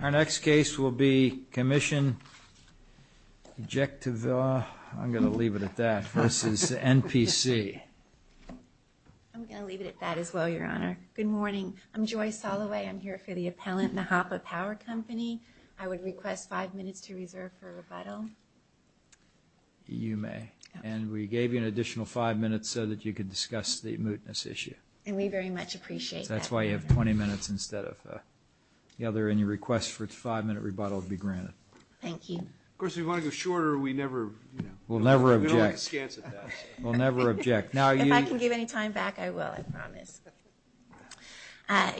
Our next case will be Commission Ejecutivavs, I'm going to leave it at that, versus NPC. I'm going to leave it at that as well, Your Honor. Good morning. I'm Joy Soloway. I'm here for the appellant NEJAPAPower Company. I would request five minutes to reserve for rebuttal. You may. And we gave you an additional five minutes so that you could discuss the mootness issue. And we very much appreciate that. That's why you have 20 minutes instead of the other, and you request for a five minute rebuttal to be granted. Thank you. Of course, if you want to go shorter, we never, you know, we don't like a scant at that. We'll never object. If I can give any time back, I will, I promise.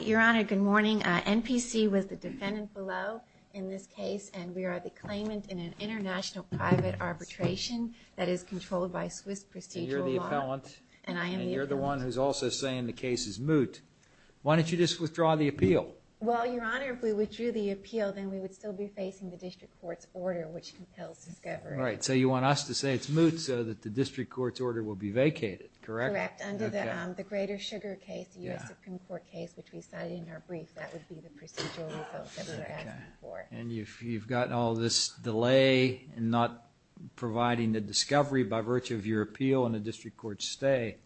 Your Honor, good morning. NPC was the defendant below in this case, and we are the claimant in an international private arbitration that is controlled by Swiss procedural law. And you're the appellant. You're the one who's also saying the case is moot. Why don't you just withdraw the appeal? Well, Your Honor, if we withdrew the appeal, then we would still be facing the district court's order, which compels discovery. Right. So you want us to say it's moot so that the district court's order will be vacated, correct? Correct. Under the Greater Sugar case, the U.S. Supreme Court case, which we cited in our brief, that would be the procedural reference that we were asking for. And you've gotten all this delay in not providing the discovery by virtue of your appeal and the district court's stay.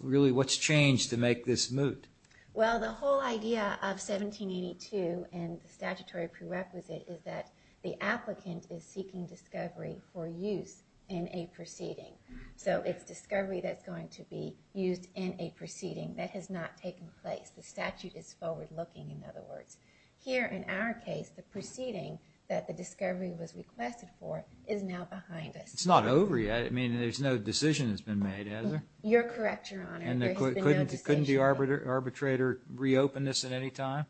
Really, what's changed to make this moot? Well, the whole idea of 1782 and the statutory prerequisite is that the applicant is seeking discovery for use in a proceeding. So it's discovery that's going to be used in a proceeding. That has not taken place. The statute is forward-looking, in other words. Here, in our case, the proceeding that the discovery was requested for is now behind us. It's not over yet. I mean, there's no decision that's been made, has there? You're correct, Your Honor. There has been no decision. And couldn't the arbitrator reopen this at any time,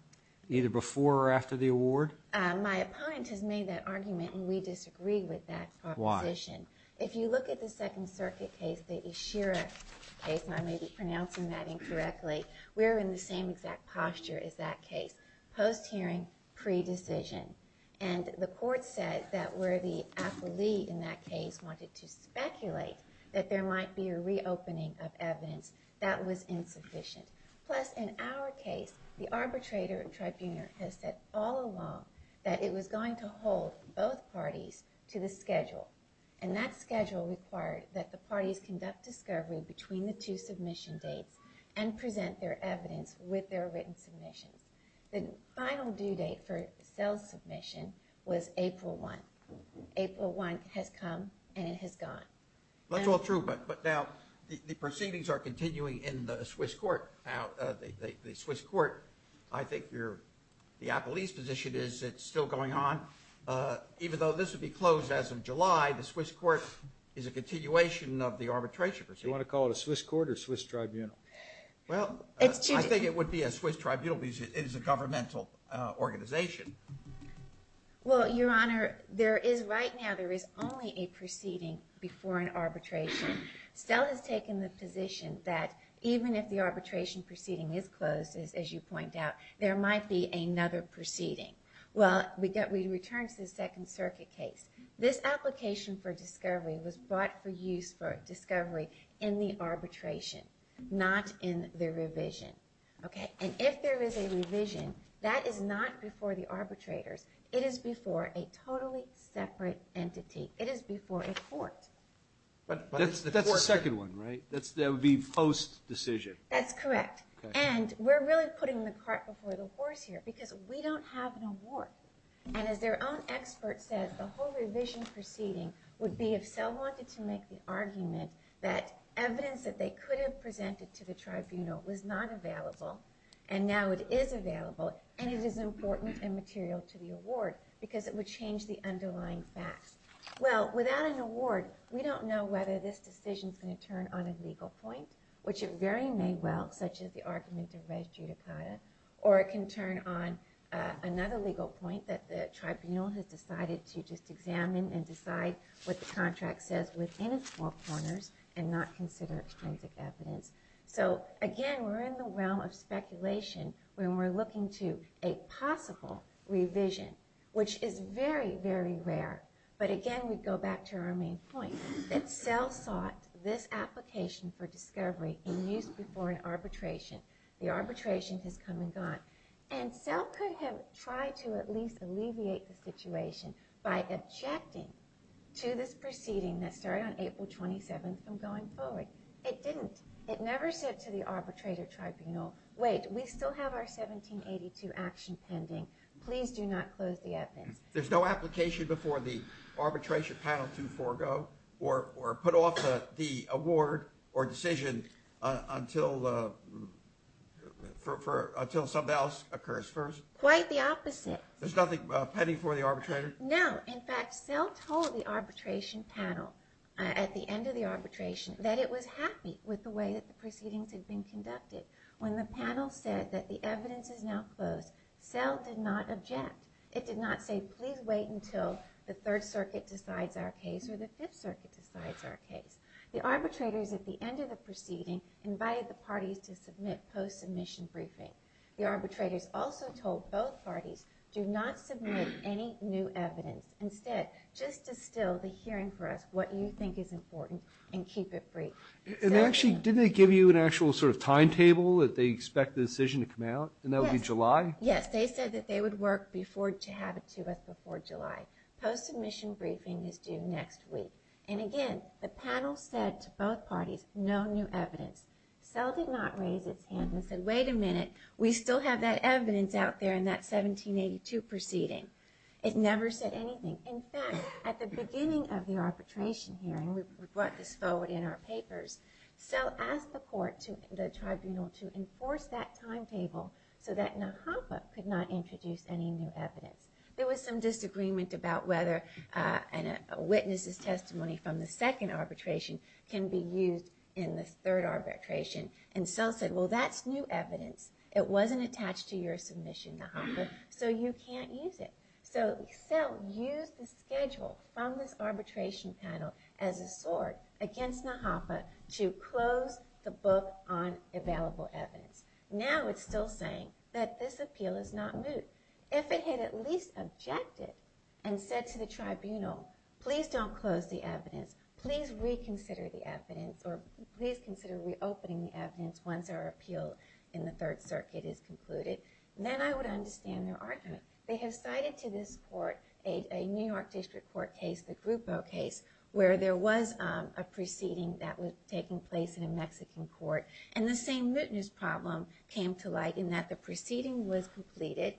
either before or after the award? My opponent has made that argument, and we disagree with that proposition. Why? If you look at the Second Circuit case, the Esherick case, and I may be pronouncing that incorrectly, we're in the same exact posture as that case, post-hearing, pre-decision. And the court said that where the affilee in that case wanted to speculate that there might be a reopening of evidence, that was insufficient. Plus, in our case, the arbitrator and tribuner had said all along that it was going to hold both parties to the schedule. And that schedule required that the parties conduct discovery between the two submission dates and present their evidence with their written submissions. The final due date for Sell's submission was April 1. April 1 has come, and it has gone. That's all true, but now the proceedings are continuing in the Swiss court. Now, the Swiss court, I think the appellee's position is it's still going on. Even though this would be closed as of July, the Swiss court is a continuation of the arbitration proceedings. You want to call it a Swiss court or a Swiss tribunal? Well, I think it would be a Swiss tribunal because it is a governmental organization. Well, Your Honor, right now there is only a proceeding before an arbitration. Sell has taken the position that even if the arbitration proceeding is closed, as you point out, there might be another proceeding. Well, we return to the Second Circuit case. This application for discovery was brought for use for discovery in the arbitration, not in the revision. And if there is a revision, that is not before the arbitrators. It is before a totally separate entity. It is before a court. But that's the second one, right? That would be post-decision. That's correct. And we're really putting the cart before the horse here because we don't have an award. And as their own expert said, the whole revision proceeding would be if Sell wanted to make the argument that evidence that they could have presented to the tribunal was not available, and now it is available, and it is important and material to the award because it would change the underlying facts. Well, without an award, we don't know whether this decision is going to turn on a legal point, which it very may well, such as the argument of res judicata, or it can turn on another legal point that the tribunal has decided to just examine and decide what the contract says within its four corners and not consider extrinsic evidence. So again, we're in the realm of speculation when we're looking to a possible revision, which is very, very rare. But again, we go back to our main point that Sell sought this application for discovery in use before an arbitration. The arbitration has come and gone. And Sell could have tried to at least alleviate the situation by objecting to this proceeding that started on April 27th and going forward. It didn't. It never said to the arbitrator tribunal, wait, we still have our 1782 action pending. Please do not close the evidence. There's no application before the arbitration panel to forego or put off the award or decision until something else occurs first? Quite the opposite. There's nothing pending for the arbitrator? No. In fact, Sell told the arbitration panel at the end of the arbitration that it was happy with the way that the proceedings had been conducted. When the panel said that the evidence is now closed, Sell did not object. It did not say, please wait until the Third Circuit decides our case or the Fifth Circuit decides our case. The arbitrators at the end of the proceeding invited the parties to submit post-submission briefings. The arbitrators also told both parties, do not submit any new evidence. Instead, just distill the hearing for us, what you think is important, and keep it brief. And actually, didn't they give you an actual sort of timetable that they expect the decision to come out? Yes. And that would be July? Yes. They said that they would work to have it to us before July. Post-submission briefing is due next week. And again, the panel said to both parties, no new evidence. Sell did not raise its hand and said, wait a minute, we still have that evidence out there in that 1782 proceeding. It never said anything. In fact, at the beginning of the arbitration hearing, we brought this forward in our papers, Sell asked the court, the tribunal, to enforce that timetable so that Nahapa could not introduce any new evidence. There was some disagreement about whether a witness's testimony from the second arbitration can be used in the third arbitration. And Sell said, well, that's new evidence. It wasn't attached to your submission, Nahapa, so you can't use it. So Sell used the schedule from this arbitration panel as a sword against Nahapa to close the book on available evidence. Now it's still saying that this appeal is not moot. If it had at least objected and said to the tribunal, please don't close the evidence, please reconsider the evidence, or please consider reopening the evidence once our appeal in the Third Circuit is concluded, then I would understand their argument. They have cited to this court a New York District Court case, the Grupo case, where there was a proceeding that was taking place in a Mexican court, and the same mootness problem came to light in that the proceeding was completed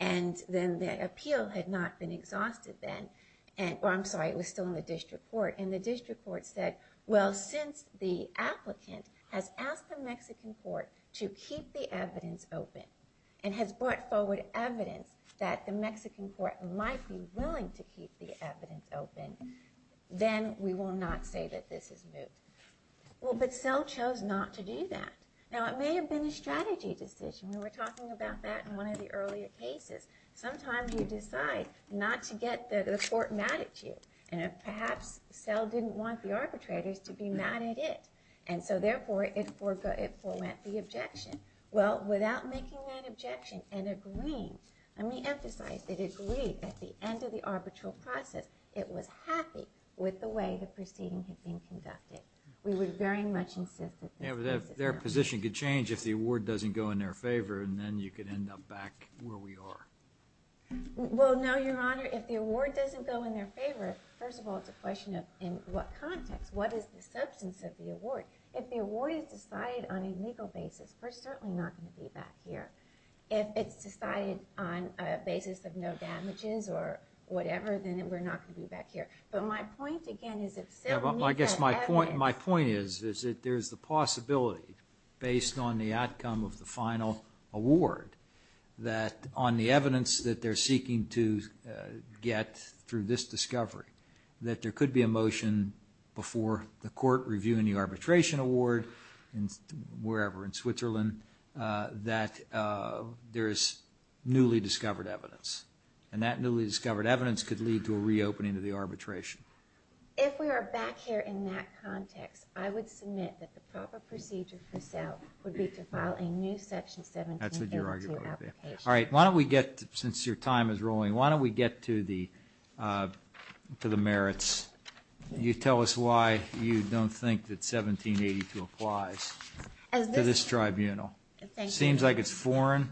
and then the appeal had not been exhausted then. I'm sorry, it was still in the District Court. And the District Court said, well, since the applicant has asked the Mexican court to keep the evidence open and has brought forward evidence that the Mexican court might be willing to keep the evidence open, then we will not say that this is moot. Well, but Selle chose not to do that. Now it may have been a strategy decision. We were talking about that in one of the earlier cases. Sometimes you decide not to get the court mad at you, and perhaps Selle didn't want the arbitrators to be mad at it, and so therefore it forwent the objection. Well, without making that objection and agreeing, let me emphasize that it agreed at the end of the arbitral process, it was happy with the way the proceeding had been conducted. We would very much insist that this case is held. Yeah, but their position could change if the award doesn't go in their favor, and then you could end up back where we are. Well, no, Your Honor. If the award doesn't go in their favor, first of all, it's a question of in what context. What is the substance of the award? If the award is decided on a legal basis, we're certainly not going to be back here. If it's decided on a basis of no damages or whatever, then we're not going to be back here. But my point, again, is if Selle needs that evidence. I guess my point is that there's the possibility, based on the outcome of the final award, that on the evidence that they're seeking to get through this discovery, that there could be a motion before the court reviewing the arbitration award wherever, in Switzerland, that there is newly discovered evidence. And that newly discovered evidence could lead to a reopening of the arbitration. If we are back here in that context, I would submit that the proper procedure for Selle would be to file a new Section 1782 application. That's what your argument would be. All right, why don't we get, since your time is rolling, why don't we get to the merits. You tell us why you don't think that 1782 applies to this tribunal. It seems like it's foreign.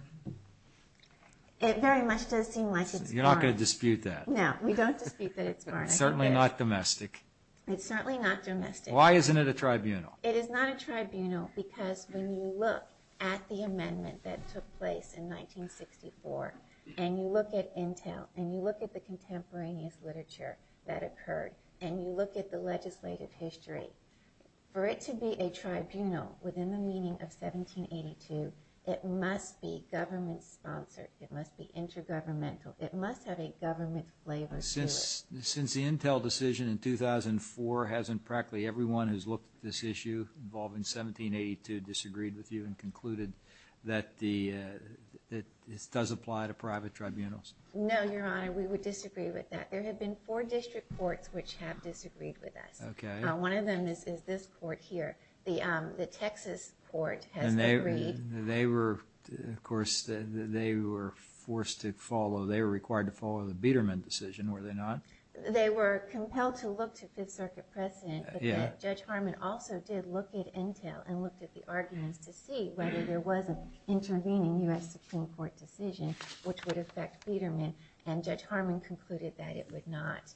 It very much does seem like it's foreign. You're not going to dispute that. No, we don't dispute that it's foreign. It's certainly not domestic. It's certainly not domestic. Why isn't it a tribunal? It is not a tribunal because when you look at the amendment that took place in 1964, and you look at Intel, and you look at the contemporaneous literature that occurred, and you look at the legislative history, for it to be a tribunal within the meaning of 1782, it must be government-sponsored. It must be intergovernmental. It must have a government flavor to it. Since the Intel decision in 2004, hasn't practically everyone who's looked at this issue involving 1782 disagreed with you and concluded that this does apply to private tribunals? No, Your Honor. We would disagree with that. There have been four district courts which have disagreed with us. Okay. One of them is this court here. The Texas court has agreed. And they were, of course, they were forced to follow. They were required to follow the Biedermann decision, were they not? They were compelled to look to Fifth Circuit precedent, but Judge Harman also did look at Intel and looked at the arguments to see whether there was an intervening U.S. Supreme Court decision which would affect Biedermann, and Judge Harman concluded that it would not.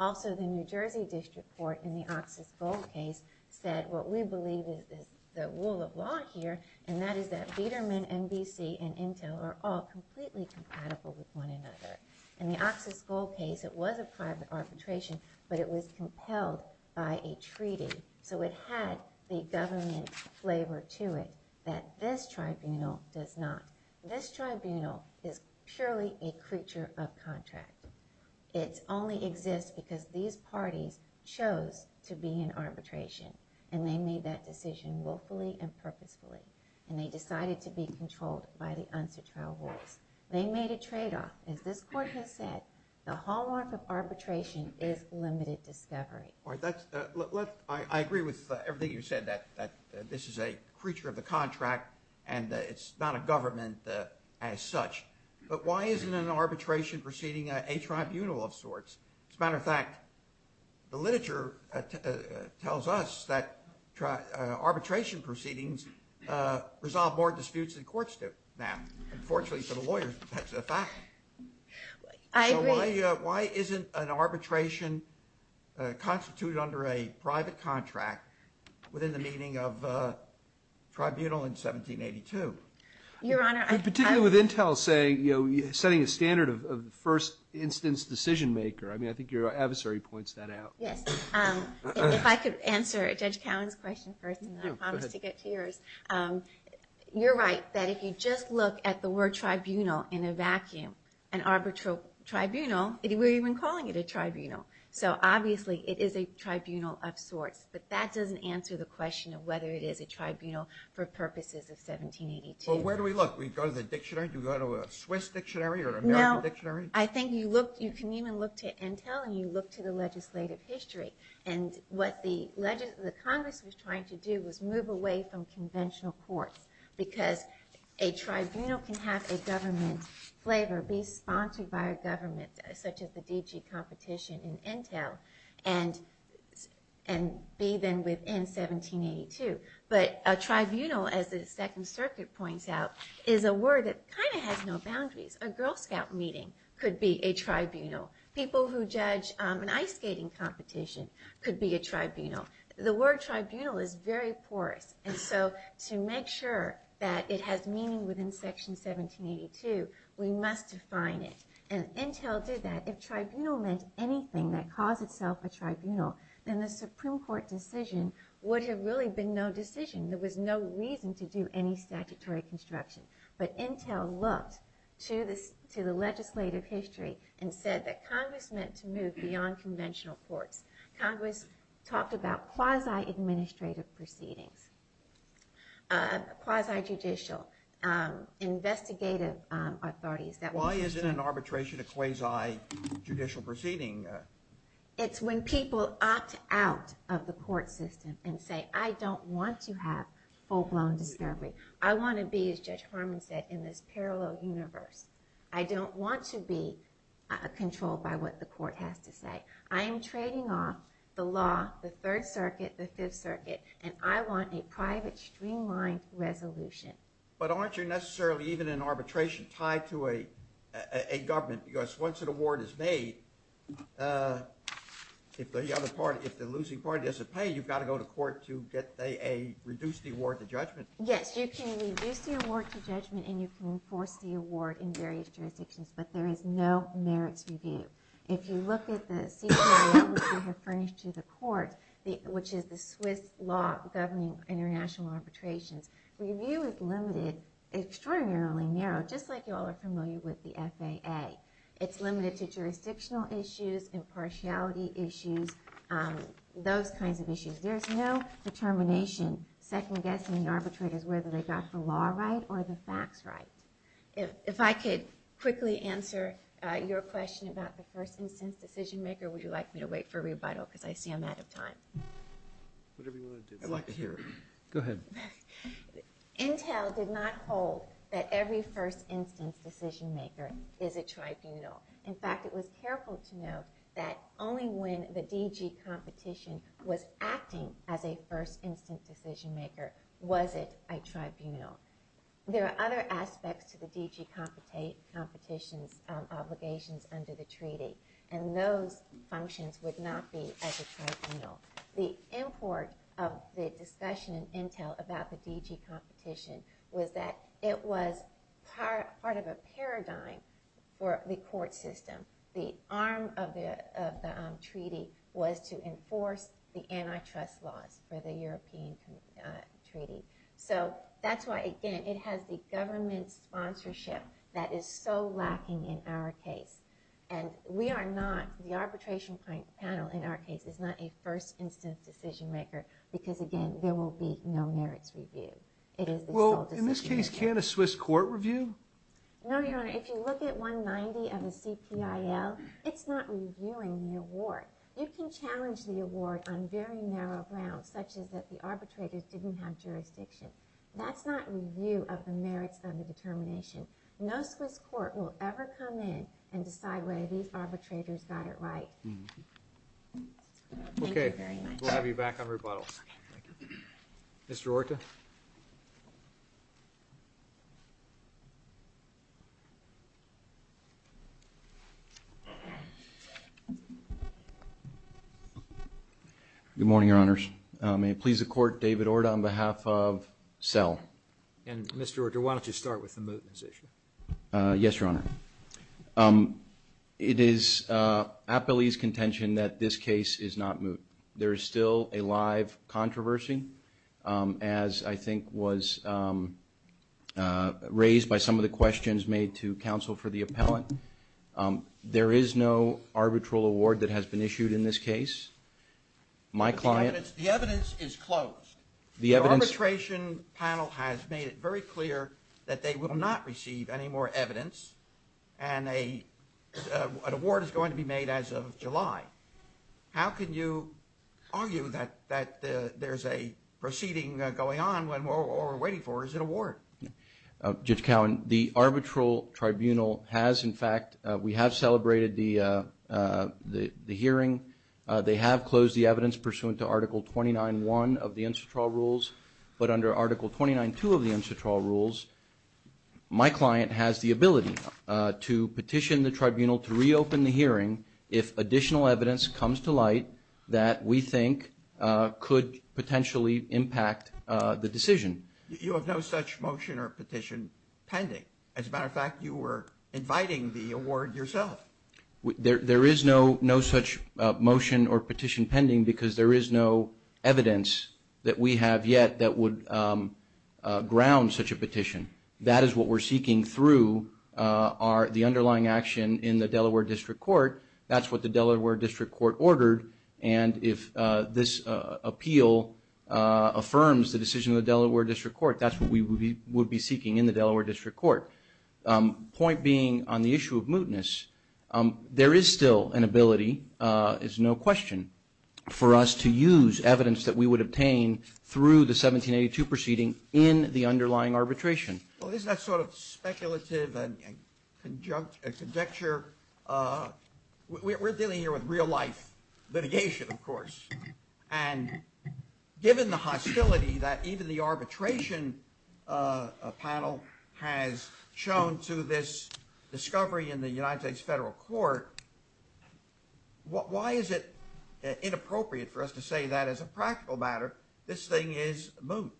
Also, the New Jersey district court in the Oxus Gold case said what we believe is the rule of law here, and that is that Biedermann and B.C. and Intel are all completely compatible with one another. In the Oxus Gold case, it was a private arbitration, but it was compelled by a treaty, so it had the government flavor to it that this tribunal does not. This tribunal is purely a creature of contract. It only exists because these parties chose to be in arbitration, and they made that decision willfully and purposefully, and they decided to be controlled by the unsuitable rules. They made a tradeoff. As this court has said, the hallmark of arbitration is limited discovery. I agree with everything you said, that this is a creature of the contract, and it's not a government as such, but why isn't an arbitration proceeding a tribunal of sorts? As a matter of fact, the literature tells us that arbitration proceedings resolve more disputes than courts do now. Unfortunately for the lawyers, that's a fact. I agree. So why isn't an arbitration constituted under a private contract within the meaning of tribunal in 1782? Your Honor, I'm Particularly with Intel setting a standard of the first instance decision maker. I mean, I think your adversary points that out. Yes. If I could answer Judge Cowen's question first, and then I promise to get to yours. You're right, that if you just look at the word tribunal in a vacuum, an arbitral tribunal, we're even calling it a tribunal. So obviously, it is a tribunal of sorts, but that doesn't answer the question of whether it is a tribunal for purposes of 1782. Well, where do we look? Do we go to the dictionary? Do we go to a Swiss dictionary or American dictionary? No. I think you can even look to Intel, and you look to the legislative history. And what the Congress was trying to do was move away from conventional courts because a tribunal can have a government flavor, be sponsored by a government such as the DG competition in Intel, and be then within 1782. But a tribunal, as the Second Circuit points out, is a word that kind of has no boundaries. A Girl Scout meeting could be a tribunal. People who judge an ice skating competition could be a tribunal. The word tribunal is very porous, and so to make sure that it has meaning within Section 1782, we must define it. And Intel did that. If tribunal meant anything that caused itself a tribunal, then the Supreme Court decision would have really been no decision. There was no reason to do any statutory construction. But Intel looked to the legislative history and said that Congress meant to move beyond conventional courts. Congress talked about quasi-administrative proceedings, quasi-judicial investigative authorities. Why isn't an arbitration a quasi-judicial proceeding? It's when people opt out of the court system and say, I don't want to have full-blown discovery. I want to be, as Judge Harmon said, in this parallel universe. I don't want to be controlled by what the court has to say. I am trading off the law, the Third Circuit, the Fifth Circuit, and I want a private, streamlined resolution. But aren't you necessarily, even in arbitration, tied to a government? Because once an award is made, if the losing party doesn't pay, you've got to go to court to reduce the award to judgment. Yes, you can reduce the award to judgment and you can enforce the award in various jurisdictions, but there is no merits review. If you look at the CPL that we have furnished to the court, which is the Swiss law governing international arbitrations, review is limited, extraordinarily narrow, just like you all are familiar with the FAA. It's limited to jurisdictional issues, impartiality issues, those kinds of issues. There's no determination, second guessing the arbitrators whether they got the law right or the facts right. If I could quickly answer your question about the first instance decision maker, would you like me to wait for rebuttal, because I see I'm out of time. Whatever you want to do. I'd like to hear it. Go ahead. Intel did not hold that every first instance decision maker is a tribunal. In fact, it was careful to note that only when the DG competition was acting as a first instance decision maker was it a tribunal. There are other aspects to the DG competition's obligations under the treaty, and those functions would not be as a tribunal. The import of the discussion in Intel about the DG competition was that it was part of a paradigm for the court system. The arm of the treaty was to enforce the antitrust laws for the European treaty. So that's why, again, it has the government sponsorship that is so lacking in our case. And we are not, the arbitration panel in our case is not a first instance decision maker, because, again, there will be no merits review. Well, in this case, can't a Swiss court review? No, Your Honor. If you look at 190 of the CPIL, it's not reviewing the award. You can challenge the award on very narrow grounds, such as that the arbitrators didn't have jurisdiction. That's not review of the merits of the determination. No Swiss court will ever come in and decide whether these arbitrators got it right. Okay. We'll have you back on rebuttals. Mr. Orta? Good morning, Your Honors. May it please the court, David Orta on behalf of CEL. And, Mr. Orta, why don't you start with the moot in this issue? Yes, Your Honor. It is Appellee's contention that this case is not moot. There is still a live controversy, as I think was raised by some of the questions made to counsel for the appellant. There is no arbitral award that has been issued in this case. The evidence is closed. The arbitration panel has made it very clear that they will not receive any more evidence, and an award is going to be made as of July. How can you argue that there's a proceeding going on when all we're waiting for is an award? Judge Cowen, the arbitral tribunal has, in fact, we have celebrated the hearing. They have closed the evidence pursuant to Article 29.1 of the Institutional Rules, but under Article 29.2 of the Institutional Rules, my client has the ability to petition the tribunal to reopen the hearing if additional evidence comes to light that we think could potentially impact the decision. You have no such motion or petition pending. As a matter of fact, you were inviting the award yourself. There is no such motion or petition pending because there is no evidence that we have yet that would ground such a petition. That is what we're seeking through the underlying action in the Delaware District Court. That's what the Delaware District Court ordered, and if this appeal affirms the decision of the Delaware District Court, that's what we would be seeking in the Delaware District Court. Point being on the issue of mootness, there is still an ability, it's no question, for us to use evidence that we would obtain through the 1782 proceeding in the underlying arbitration. Well, isn't that sort of speculative and a conjecture? We're dealing here with real-life litigation, of course, and given the hostility that even the arbitration panel has shown to this discovery in the United States federal court, why is it inappropriate for us to say that as a practical matter this thing is moot?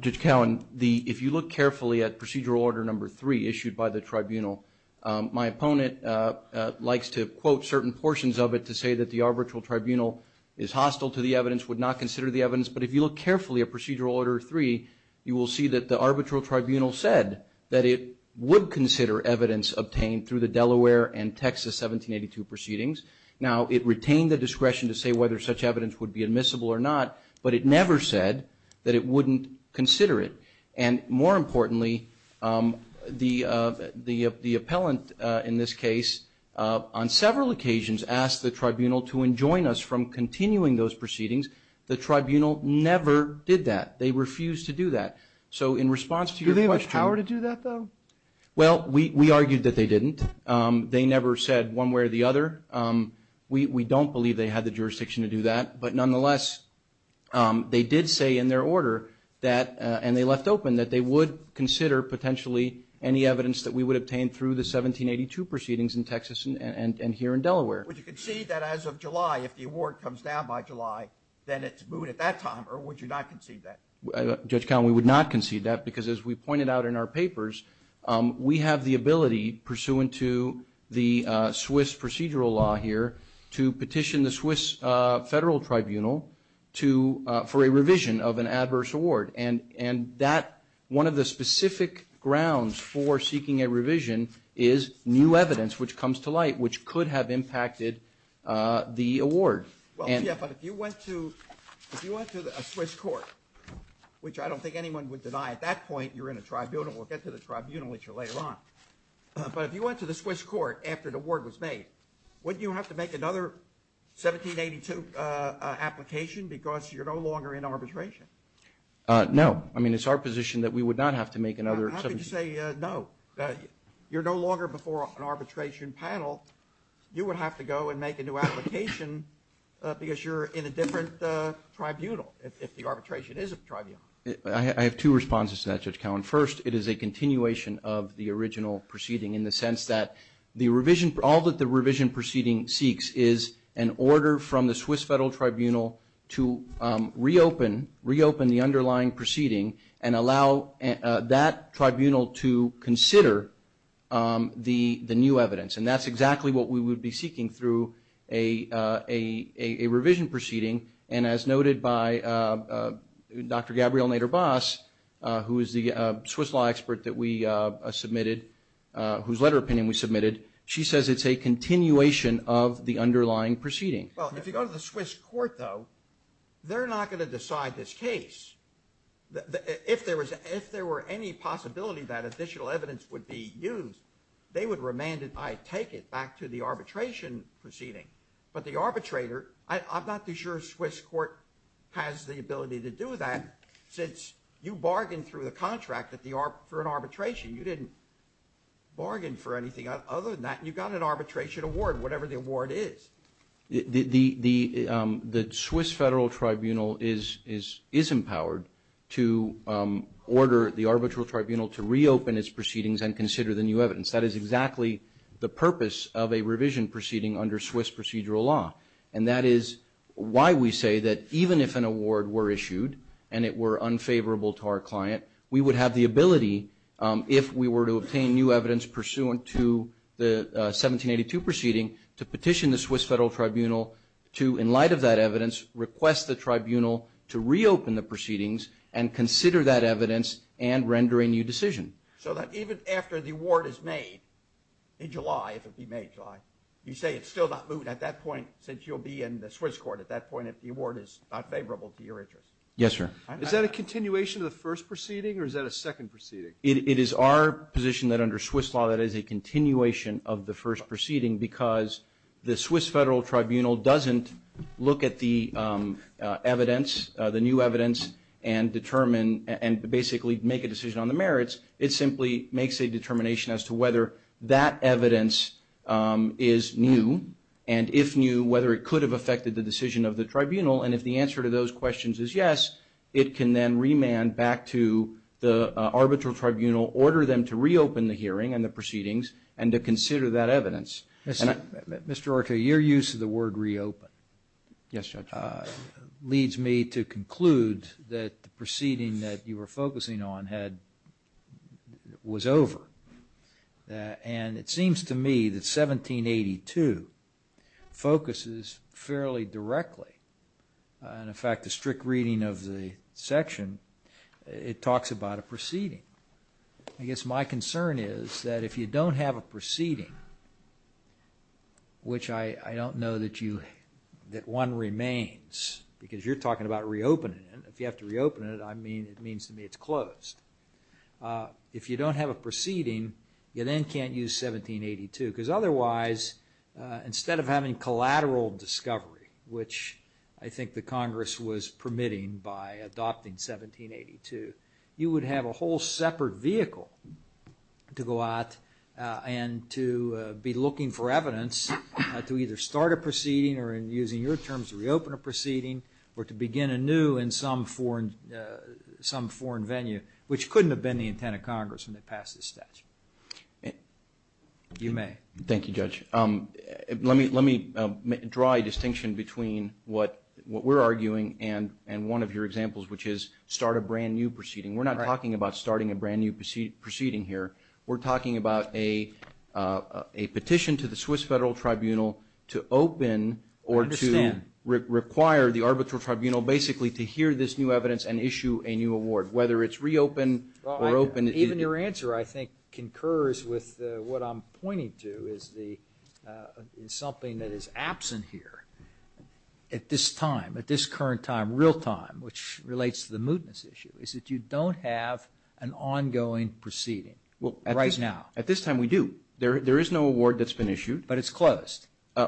Judge Cowen, if you look carefully at Procedural Order Number 3 issued by the tribunal, my opponent likes to quote certain portions of it to say that the arbitral tribunal is hostile to the evidence, would not consider the evidence, but if you look carefully at Procedural Order 3, you will see that the arbitral tribunal said that it would consider evidence obtained through the Delaware and Texas 1782 proceedings. Now, it retained the discretion to say whether such evidence would be admissible or not, but it never said that it wouldn't consider it. And more importantly, the appellant in this case on several occasions asked the tribunal to enjoin us from continuing those proceedings. The tribunal never did that. They refused to do that. So in response to your question – Do they have the power to do that, though? Well, we argued that they didn't. They never said one way or the other. We don't believe they had the jurisdiction to do that. But nonetheless, they did say in their order that, and they left open, that they would consider potentially any evidence that we would obtain through the 1782 proceedings in Texas and here in Delaware. Would you concede that as of July, if the award comes down by July, then it's moot at that time, or would you not concede that? Judge Cowen, we would not concede that because, as we pointed out in our papers, we have the ability, pursuant to the Swiss procedural law here, to petition the Swiss Federal Tribunal for a revision of an adverse award. And that, one of the specific grounds for seeking a revision is new evidence, which comes to light, which could have impacted the award. Well, yeah, but if you went to a Swiss court, which I don't think anyone would deny, at that point you're in a tribunal. We'll get to the tribunal issue later on. But if you went to the Swiss court after the award was made, wouldn't you have to make another 1782 application because you're no longer in arbitration? No. I mean, it's our position that we would not have to make another 1782. How could you say no? You're no longer before an arbitration panel. You would have to go and make a new application because you're in a different tribunal, if the arbitration is a tribunal. I have two responses to that, Judge Cowen. First, it is a continuation of the original proceeding in the sense that all that the revision proceeding seeks is an order from the Swiss Federal Tribunal to reopen the underlying proceeding and allow that tribunal to consider the new evidence. And that's exactly what we would be seeking through a revision proceeding. And as noted by Dr. Gabrielle Nader-Bas, who is the Swiss law expert that we submitted, whose letter of opinion we submitted, she says it's a continuation of the underlying proceeding. Well, if you go to the Swiss court, though, they're not going to decide this case. If there were any possibility that additional evidence would be used, they would remand it, I take it, back to the arbitration proceeding. But the arbitrator, I'm not too sure a Swiss court has the ability to do that since you bargained through the contract for an arbitration. You didn't bargain for anything other than that. You got an arbitration award, whatever the award is. The Swiss Federal Tribunal is empowered to order the arbitral tribunal to reopen its proceedings and consider the new evidence. That is exactly the purpose of a revision proceeding under Swiss procedural law. And that is why we say that even if an award were issued and it were unfavorable to our client, we would have the ability if we were to obtain new evidence pursuant to the 1782 proceeding to petition the Swiss Federal Tribunal to, in light of that evidence, request the tribunal to reopen the proceedings and consider that evidence and render a new decision. So that even after the award is made in July, if it be made in July, you say it's still not moved at that point since you'll be in the Swiss court at that point if the award is not favorable to your interest? Yes, sir. Is that a continuation of the first proceeding or is that a second proceeding? It is our position that under Swiss law that is a continuation of the first proceeding because the Swiss Federal Tribunal doesn't look at the evidence, the new evidence, and determine and basically make a decision on the merits. It simply makes a determination as to whether that evidence is new and, if new, whether it could have affected the decision of the tribunal. And if the answer to those questions is yes, it can then remand back to the arbitral tribunal, order them to reopen the hearing and the proceedings, and to consider that evidence. Mr. Ortega, your use of the word reopen leads me to conclude that the proceeding that you were focusing on was over. And it seems to me that 1782 focuses fairly directly, and, in fact, the strict reading of the section, it talks about a proceeding. I guess my concern is that if you don't have a proceeding, which I don't know that one remains because you're talking about reopening it, if you have to reopen it, I mean, it means to me it's closed. If you don't have a proceeding, you then can't use 1782 because otherwise, instead of having collateral discovery, which I think the Congress was permitting by adopting 1782, you would have a whole separate vehicle to go out and to be looking for evidence to either start a proceeding or, in using your terms, reopen a proceeding or to begin anew in some foreign venue, which couldn't have been the intent of Congress when they passed this statute. You may. Thank you, Judge. Let me draw a distinction between what we're arguing and one of your examples, which is start a brand-new proceeding. We're not talking about starting a brand-new proceeding here. We're talking about a petition to the Swiss Federal Tribunal to open or to require the arbitral tribunal, basically, to hear this new evidence and issue a new award, whether it's reopened or opened. Even your answer, I think, concurs with what I'm pointing to as something that is absent here at this time, at this current time, real time, which relates to the mootness issue, is that you don't have an ongoing proceeding right now. At this time, we do. There is no award that's been issued. But it's closed.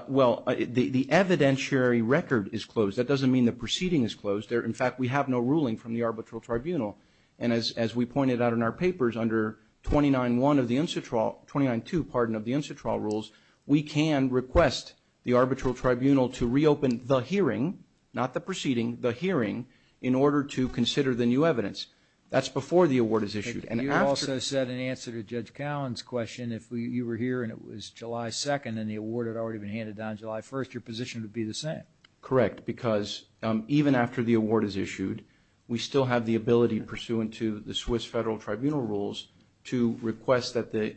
Well, the evidentiary record is closed. That doesn't mean the proceeding is closed. In fact, we have no ruling from the arbitral tribunal. And as we pointed out in our papers, under 29.1 of the Incitrall – 29.2, pardon, of the Incitrall rules, we can request the arbitral tribunal to reopen the hearing, not the proceeding, the hearing, in order to consider the new evidence. That's before the award is issued. You also said in answer to Judge Cowen's question, if you were here and it was July 2nd and the award had already been handed down July 1st, your position would be the same. Correct, because even after the award is issued, we still have the ability pursuant to the Swiss Federal Tribunal rules to request that the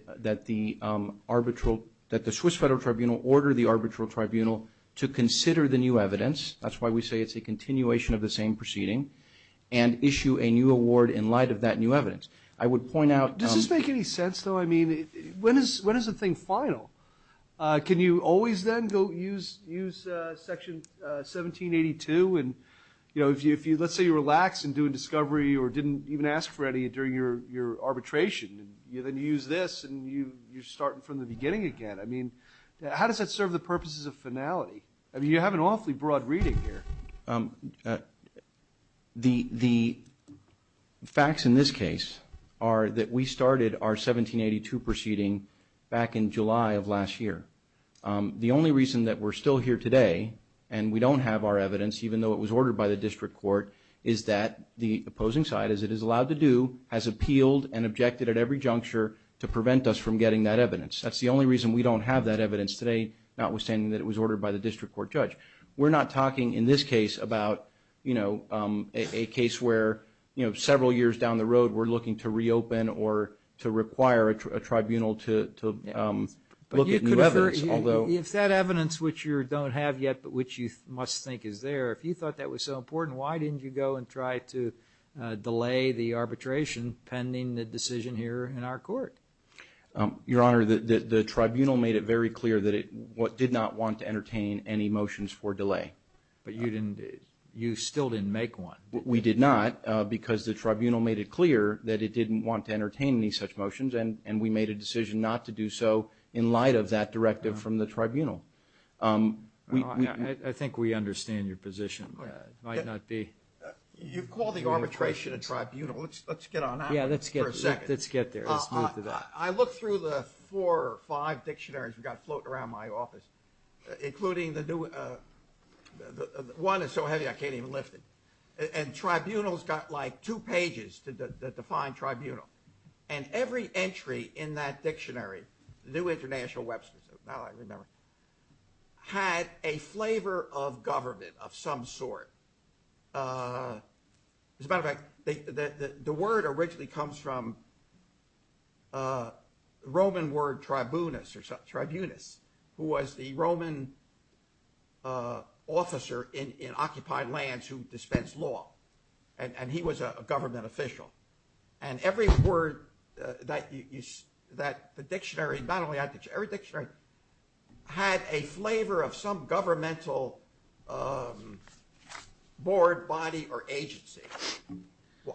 Swiss Federal Tribunal order the arbitral tribunal to consider the new evidence. That's why we say it's a continuation of the same proceeding and issue a new award in light of that new evidence. I would point out – Does this make any sense, though? I mean, when is the thing final? Can you always then go use Section 1782? And, you know, if you – let's say you relax and do a discovery or didn't even ask for any during your arbitration, then you use this and you're starting from the beginning again. I mean, how does that serve the purposes of finality? I mean, you have an awfully broad reading here. The facts in this case are that we started our 1782 proceeding back in July of last year. The only reason that we're still here today and we don't have our evidence, even though it was ordered by the district court, is that the opposing side, as it is allowed to do, has appealed and objected at every juncture to prevent us from getting that evidence. That's the only reason we don't have that evidence today, notwithstanding that it was ordered by the district court judge. We're not talking in this case about, you know, a case where several years down the road we're looking to reopen or to require a tribunal to look at new evidence. But you could have heard – if that evidence which you don't have yet but which you must think is there, if you thought that was so important, why didn't you go and try to delay the arbitration pending the decision here in our court? Your Honor, the tribunal made it very clear that it did not want to entertain any motions for delay. But you didn't – you still didn't make one. We did not because the tribunal made it clear that it didn't want to entertain any such motions, and we made a decision not to do so in light of that directive from the tribunal. I think we understand your position. You've called the arbitration a tribunal. Let's get on that for a second. Let's get there. Let's move to that. I looked through the four or five dictionaries we've got floating around my office, including the new – one is so heavy I can't even lift it. And tribunals got like two pages to define tribunal. And every entry in that dictionary, the New International Webster's, now I remember, had a flavor of government of some sort. As a matter of fact, the word originally comes from the Roman word tribunus, or tribunus, who was the Roman officer in occupied lands who dispensed law. And he was a government official. And every word that the dictionary – not only that dictionary, every dictionary had a flavor of some governmental board, body, or agency.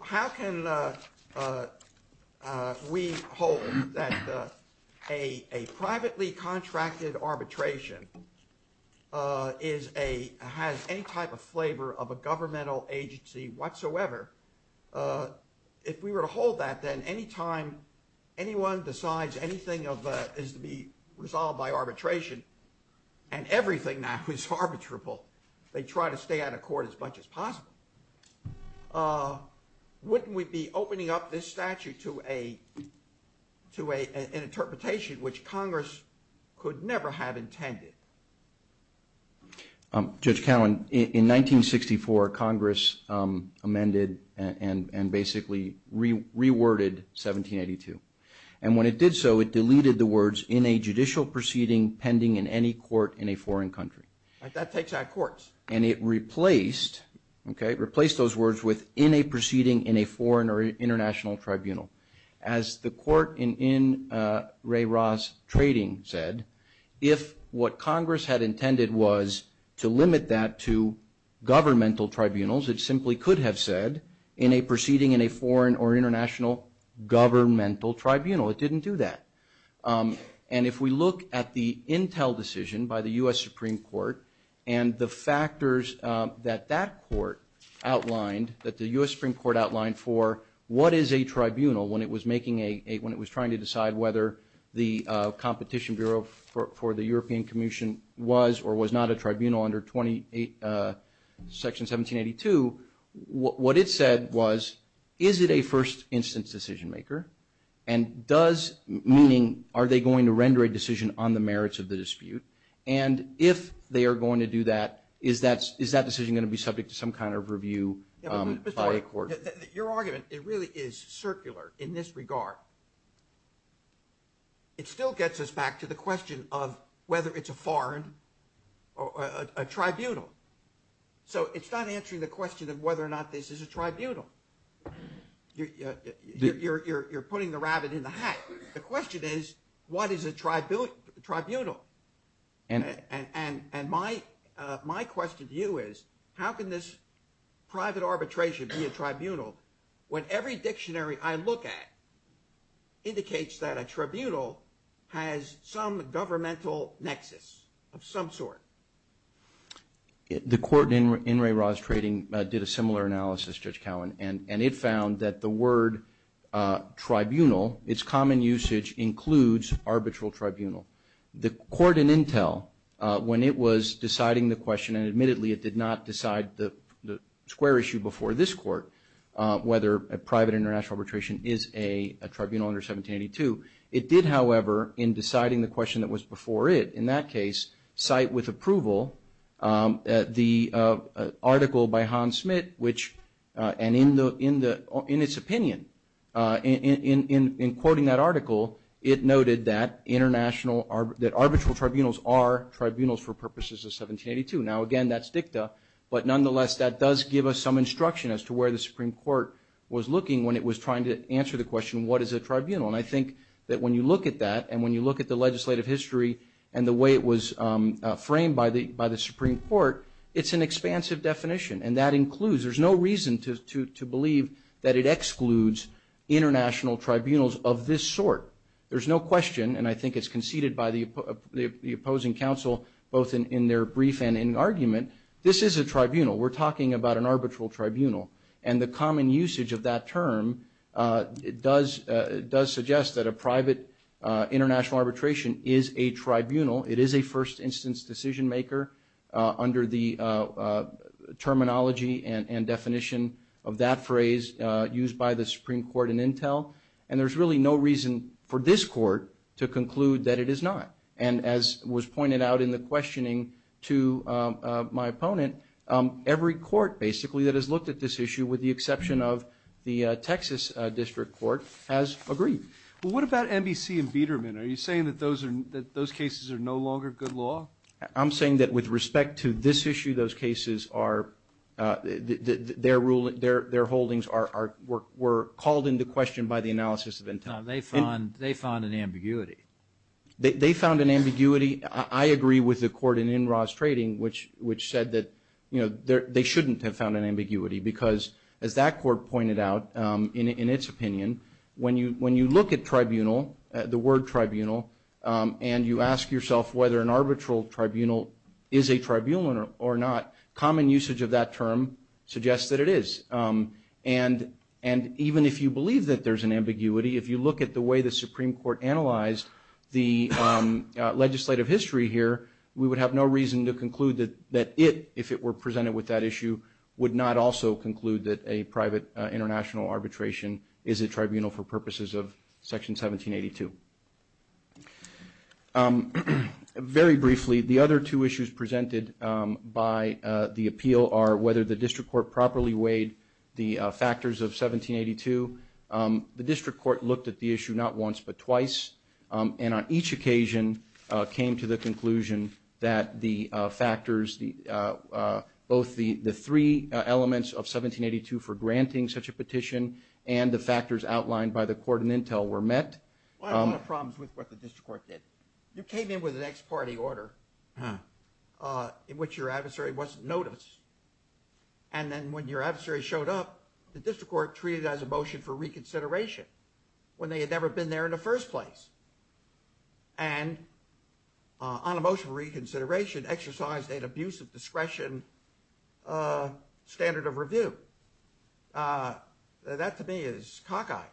How can we hold that a privately contracted arbitration is a – has any type of flavor of a governmental agency whatsoever? If we were to hold that, then any time anyone decides anything of – is to be resolved by arbitration, and everything now is arbitrable, they try to stay out of court as much as possible. Wouldn't we be opening up this statute to an interpretation which Congress could never have intended? Judge Cowen, in 1964, Congress amended and basically reworded 1782. And when it did so, it deleted the words, in a judicial proceeding pending in any court in a foreign country. That takes out courts. And it replaced, okay, replaced those words with, in a proceeding in a foreign or international tribunal. As the court in Ray Ross Trading said, if what Congress had intended was to limit that to governmental tribunals, it simply could have said, in a proceeding in a foreign or international governmental tribunal. It didn't do that. And if we look at the Intel decision by the U.S. Supreme Court, and the factors that that court outlined, that the U.S. Supreme Court outlined for what is a tribunal when it was making a, when it was trying to decide whether the Competition Bureau for the European Commission was or was not a tribunal under Section 1782, what it said was, is it a first instance decision maker? And does, meaning, are they going to render a decision on the merits of the dispute? And if they are going to do that, is that decision going to be subject to some kind of review by a court? Your argument, it really is circular in this regard. It still gets us back to the question of whether it's a foreign or a tribunal. So it's not answering the question of whether or not this is a tribunal. You're putting the rabbit in the hat. The question is, what is a tribunal? And my question to you is, how can this private arbitration be a tribunal when every dictionary I look at indicates that a tribunal has some governmental nexus of some sort? The court in In re Ras Trading did a similar analysis, Judge Cowen, and it found that the word tribunal, its common usage includes arbitral tribunal. The court in Intel, when it was deciding the question, and admittedly it did not decide the square issue before this court, whether a private international arbitration is a tribunal under 1782, it did, however, in deciding the question that was before it, in that case, cite with approval the article by Hans Smit, which, and in its opinion, in quoting that article, it noted that international, that arbitral tribunals are tribunals for purposes of 1782. Now, again, that's dicta, but nonetheless, that does give us some instruction as to where the Supreme Court was looking when it was trying to answer the question, what is a tribunal? And I think that when you look at that, and when you look at the legislative history and the way it was framed by the Supreme Court, it's an expansive definition, and that includes, there's no reason to believe that it excludes international tribunals of this sort. There's no question, and I think it's conceded by the opposing council, both in their brief and in argument, this is a tribunal. We're talking about an arbitral tribunal. And the common usage of that term does suggest that a private international arbitration is a tribunal. It is a first instance decision maker under the terminology and definition of that phrase used by the Supreme Court in Intel. And there's really no reason for this court to conclude that it is not. And as was pointed out in the questioning to my opponent, every court basically that has looked at this issue, with the exception of the Texas District Court, has agreed. Well, what about NBC and Biederman? Are you saying that those cases are no longer good law? I'm saying that with respect to this issue, those cases are, their holdings were called into question by the analysis of Intel. No, they found an ambiguity. They found an ambiguity. I agree with the court in NRAS trading, which said that, you know, they shouldn't have found an ambiguity because, as that court pointed out, in its opinion, when you look at tribunal, the word tribunal, and you ask yourself whether an arbitral tribunal is a tribunal or not, common usage of that term suggests that it is. And even if you believe that there's an ambiguity, if you look at the way the Supreme Court analyzed the legislative history here, we would have no reason to conclude that it, if it were presented with that issue, would not also conclude that a private international arbitration is a tribunal for purposes of Section 1782. Very briefly, the other two issues presented by the appeal are whether the District Court properly weighed the factors of 1782. The District Court looked at the issue not once but twice, and on each occasion came to the conclusion that the factors, both the three elements of 1782 for granting such a petition and the factors outlined by the court in Intel were met. Well, I have a lot of problems with what the District Court did. You came in with an ex parte order in which your adversary wasn't noticed, and then when your adversary showed up, the District Court treated it as a motion for reconsideration when they had never been there in the first place. And on a motion for reconsideration, exercised an abuse of discretion standard of review. That to me is cockeyed.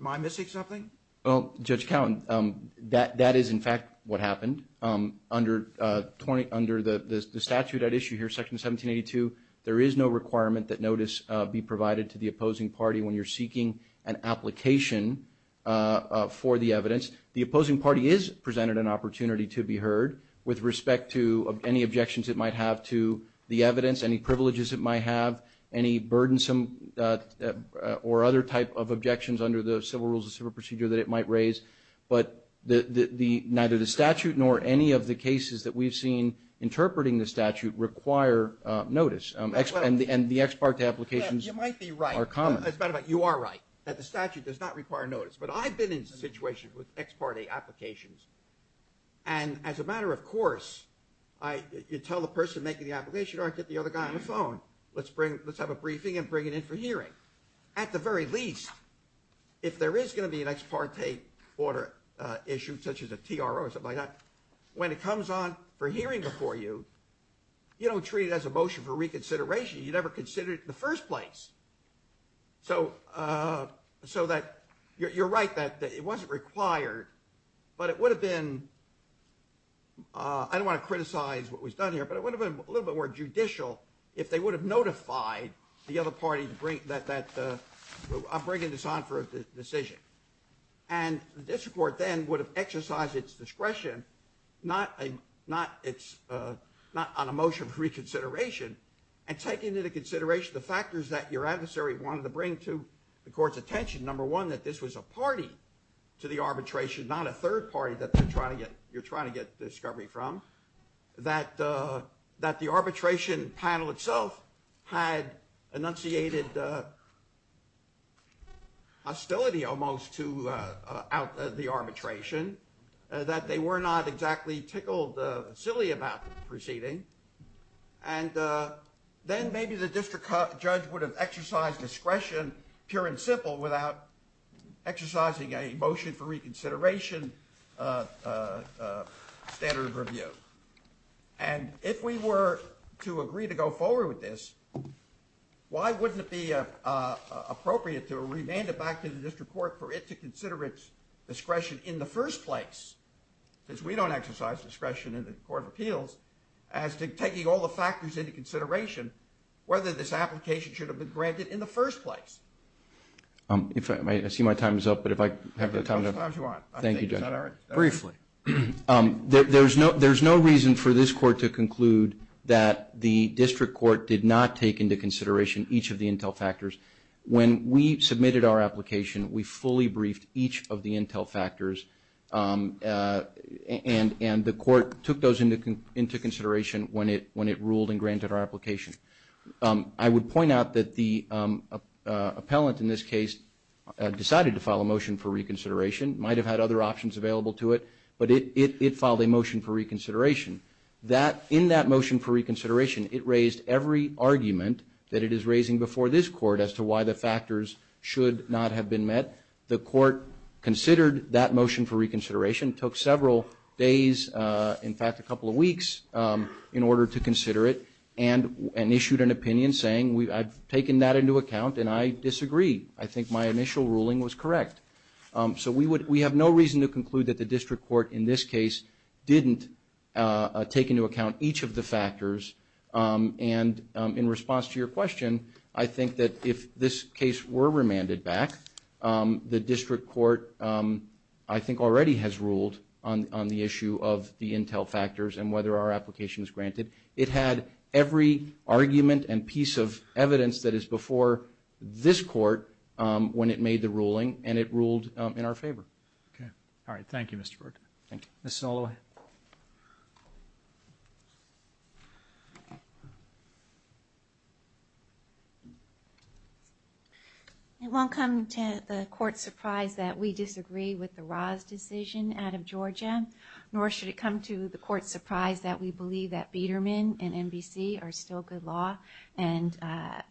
Am I missing something? Well, Judge Cowen, that is in fact what happened. Under the statute at issue here, Section 1782, there is no requirement that notice be provided to the opposing party when you're seeking an application for the evidence. The opposing party is presented an opportunity to be heard with respect to any objections it might have to the evidence, any privileges it might have, any burdensome or other type of objections under the civil rules, the civil procedure that it might raise. But neither the statute nor any of the cases that we've seen interpreting the statute require notice. And the ex parte applications are common. As a matter of fact, you are right. The statute does not require notice. But I've been in situations with ex parte applications. And as a matter of course, you tell the person making the application, or I get the other guy on the phone, let's have a briefing and bring it in for hearing. At the very least, if there is going to be an ex parte order issued, such as a TRO or something like that, when it comes on for hearing before you, you don't treat it as a motion for reconsideration. You never consider it in the first place. So you're right that it wasn't required, but it would have been, I don't want to criticize what was done here, but it would have been a little bit more judicial if they would have notified the other party that I'm bringing this on for a decision. And the district court then would have exercised its discretion, not on a motion for reconsideration, and taken into consideration the factors that your adversary wanted to bring to the court's attention. Number one, that this was a party to the arbitration, not a third party that you're trying to get discovery from. That the arbitration panel itself had enunciated hostility almost to the arbitration. That they were not exactly tickled silly about the proceeding. And then maybe the district judge would have exercised discretion, pure and simple, without exercising a motion for reconsideration standard of review. And if we were to agree to go forward with this, why wouldn't it be appropriate to remand it back to the district court for it to consider its discretion in the first place? Because we don't exercise discretion in the court of appeals as to taking all the factors into consideration whether this application should have been granted in the first place. I see my time is up, but if I have the time to... As much time as you want. Thank you, Judge. Is that all right? Briefly. There's no reason for this court to conclude that the district court did not take into consideration each of the intel factors. When we submitted our application, we fully briefed each of the intel factors, and the court took those into consideration when it ruled and granted our application. I would point out that the appellant in this case decided to file a motion for reconsideration, might have had other options available to it, but it filed a motion for reconsideration. In that motion for reconsideration, it raised every argument that it is raising before this court as to why the court considered that motion for reconsideration. It took several days, in fact a couple of weeks, in order to consider it and issued an opinion saying I've taken that into account and I disagree. I think my initial ruling was correct. So we have no reason to conclude that the district court in this case didn't take into account each of the factors. And in response to your question, I think that if this case were remanded back, the district court I think already has ruled on the issue of the intel factors and whether our application is granted. It had every argument and piece of evidence that is before this court when it made the ruling, and it ruled in our favor. Okay. All right. Thank you, Mr. Burton. Thank you. Ms. Snow, go ahead. It won't come to the court's surprise that we disagree with the Ra's decision out of Georgia, nor should it come to the court's surprise that we believe that Biedermann and NBC are still good law and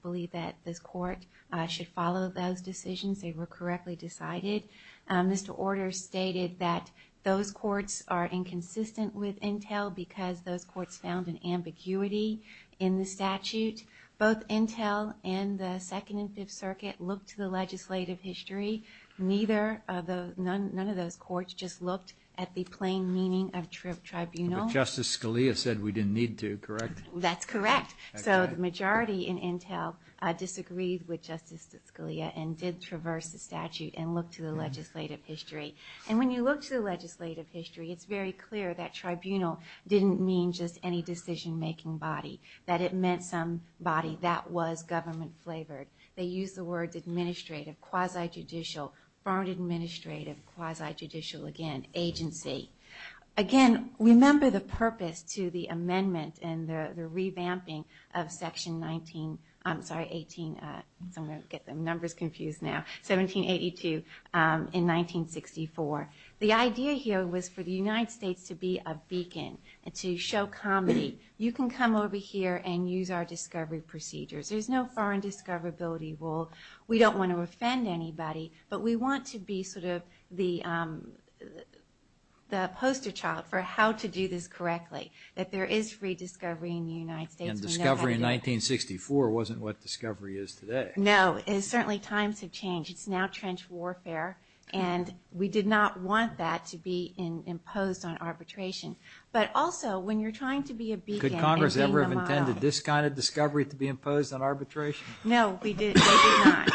believe that this court should follow those decisions. They were correctly decided. Mr. Orders stated that those courts are inconsistent with intel because those courts found an ambiguity in the statute. Both intel and the Second and Fifth Circuit looked to the legislative history. None of those courts just looked at the plain meaning of tribunal. But Justice Scalia said we didn't need to, correct? That's correct. So the majority in intel disagreed with Justice Scalia and did traverse the statute and look to the legislative history. And when you look to the legislative history, it's very clear that tribunal didn't mean just any decision-making body, that it meant some body that was government-flavored. They used the words administrative, quasi-judicial, foreign administrative, quasi-judicial, again, agency. Again, remember the purpose to the amendment and the revamping of Section 19, I'm sorry, 18, I'm going to get the numbers confused now, 1782 in 1964. The idea here was for the United States to be a beacon, to show comedy. You can come over here and use our discovery procedures. There's no foreign discoverability rule. We don't want to offend anybody. But we want to be sort of the poster child for how to do this correctly, that there is free discovery in the United States. And discovery in 1964 wasn't what discovery is today. No, and certainly times have changed. It's now trench warfare. And we did not want that to be imposed on arbitration. But also, when you're trying to be a beacon. Could Congress ever have intended this kind of discovery to be imposed on arbitration? No, we did not.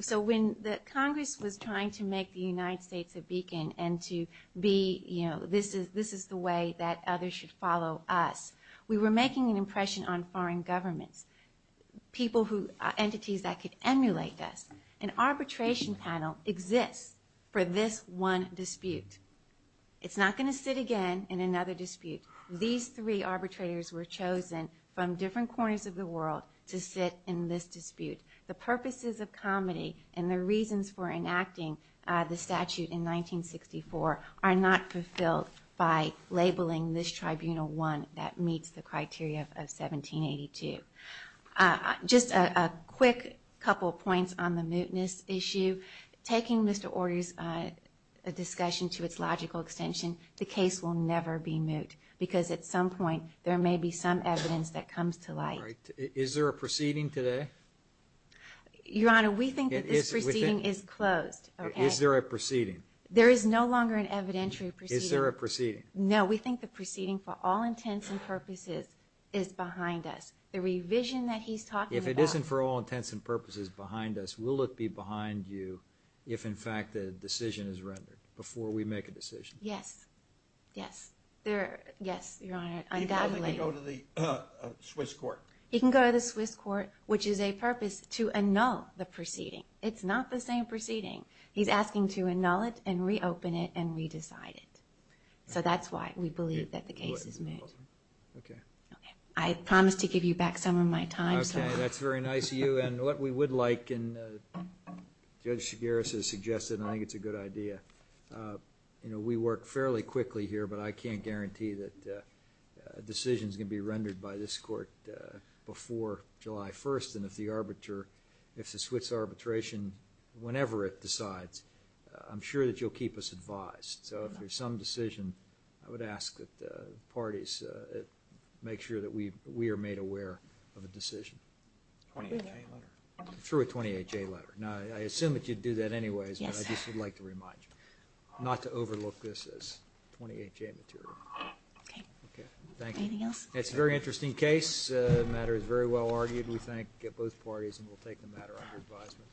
So when Congress was trying to make the United States a beacon and to be, you know, this is the way that others should follow us, we were making an impression on foreign governments, entities that could emulate us. An arbitration panel exists for this one dispute. It's not going to sit again in another dispute. These three arbitrators were chosen from different corners of the world to sit in this dispute. The purposes of comedy and the reasons for enacting the statute in 1964 are not fulfilled by labeling this Tribunal 1 that meets the criteria of 1782. Just a quick couple of points on the mootness issue. Taking Mr. Order's discussion to its logical extension, the case will never be moot. Because at some point there may be some evidence that comes to light. Is there a proceeding today? Your Honor, we think that this proceeding is closed. Is there a proceeding? There is no longer an evidentiary proceeding. Is there a proceeding? No, we think the proceeding for all intents and purposes is behind us. The revision that he's talking about. If it isn't for all intents and purposes behind us, will it be behind you if, in fact, the decision is rendered, before we make a decision? Yes. Yes. Yes, Your Honor, undoubtedly. He can go to the Swiss court. He can go to the Swiss court, which is a purpose to annul the proceeding. It's not the same proceeding. He's asking to annul it and reopen it and re-decide it. So that's why we believe that the case is moot. Okay. I promise to give you back some of my time, sir. That's very nice of you. And what we would like, and Judge Shigaris has suggested, and I think it's a good idea. We work fairly quickly here, but I can't guarantee that a decision is going to be rendered by this court before July 1st, and if the Swiss arbitration, whenever it decides, I'm sure that you'll keep us advised. So if there's some decision, I would ask that the parties make sure that we are made aware of a decision. Through a 28-J letter? Through a 28-J letter. Now, I assume that you'd do that anyways, but I just would like to remind you not to overlook this as 28-J material. Okay. Thank you. Anything else? It's a very interesting case. The matter is very well argued, we thank both parties, and we'll take the matter under advisement.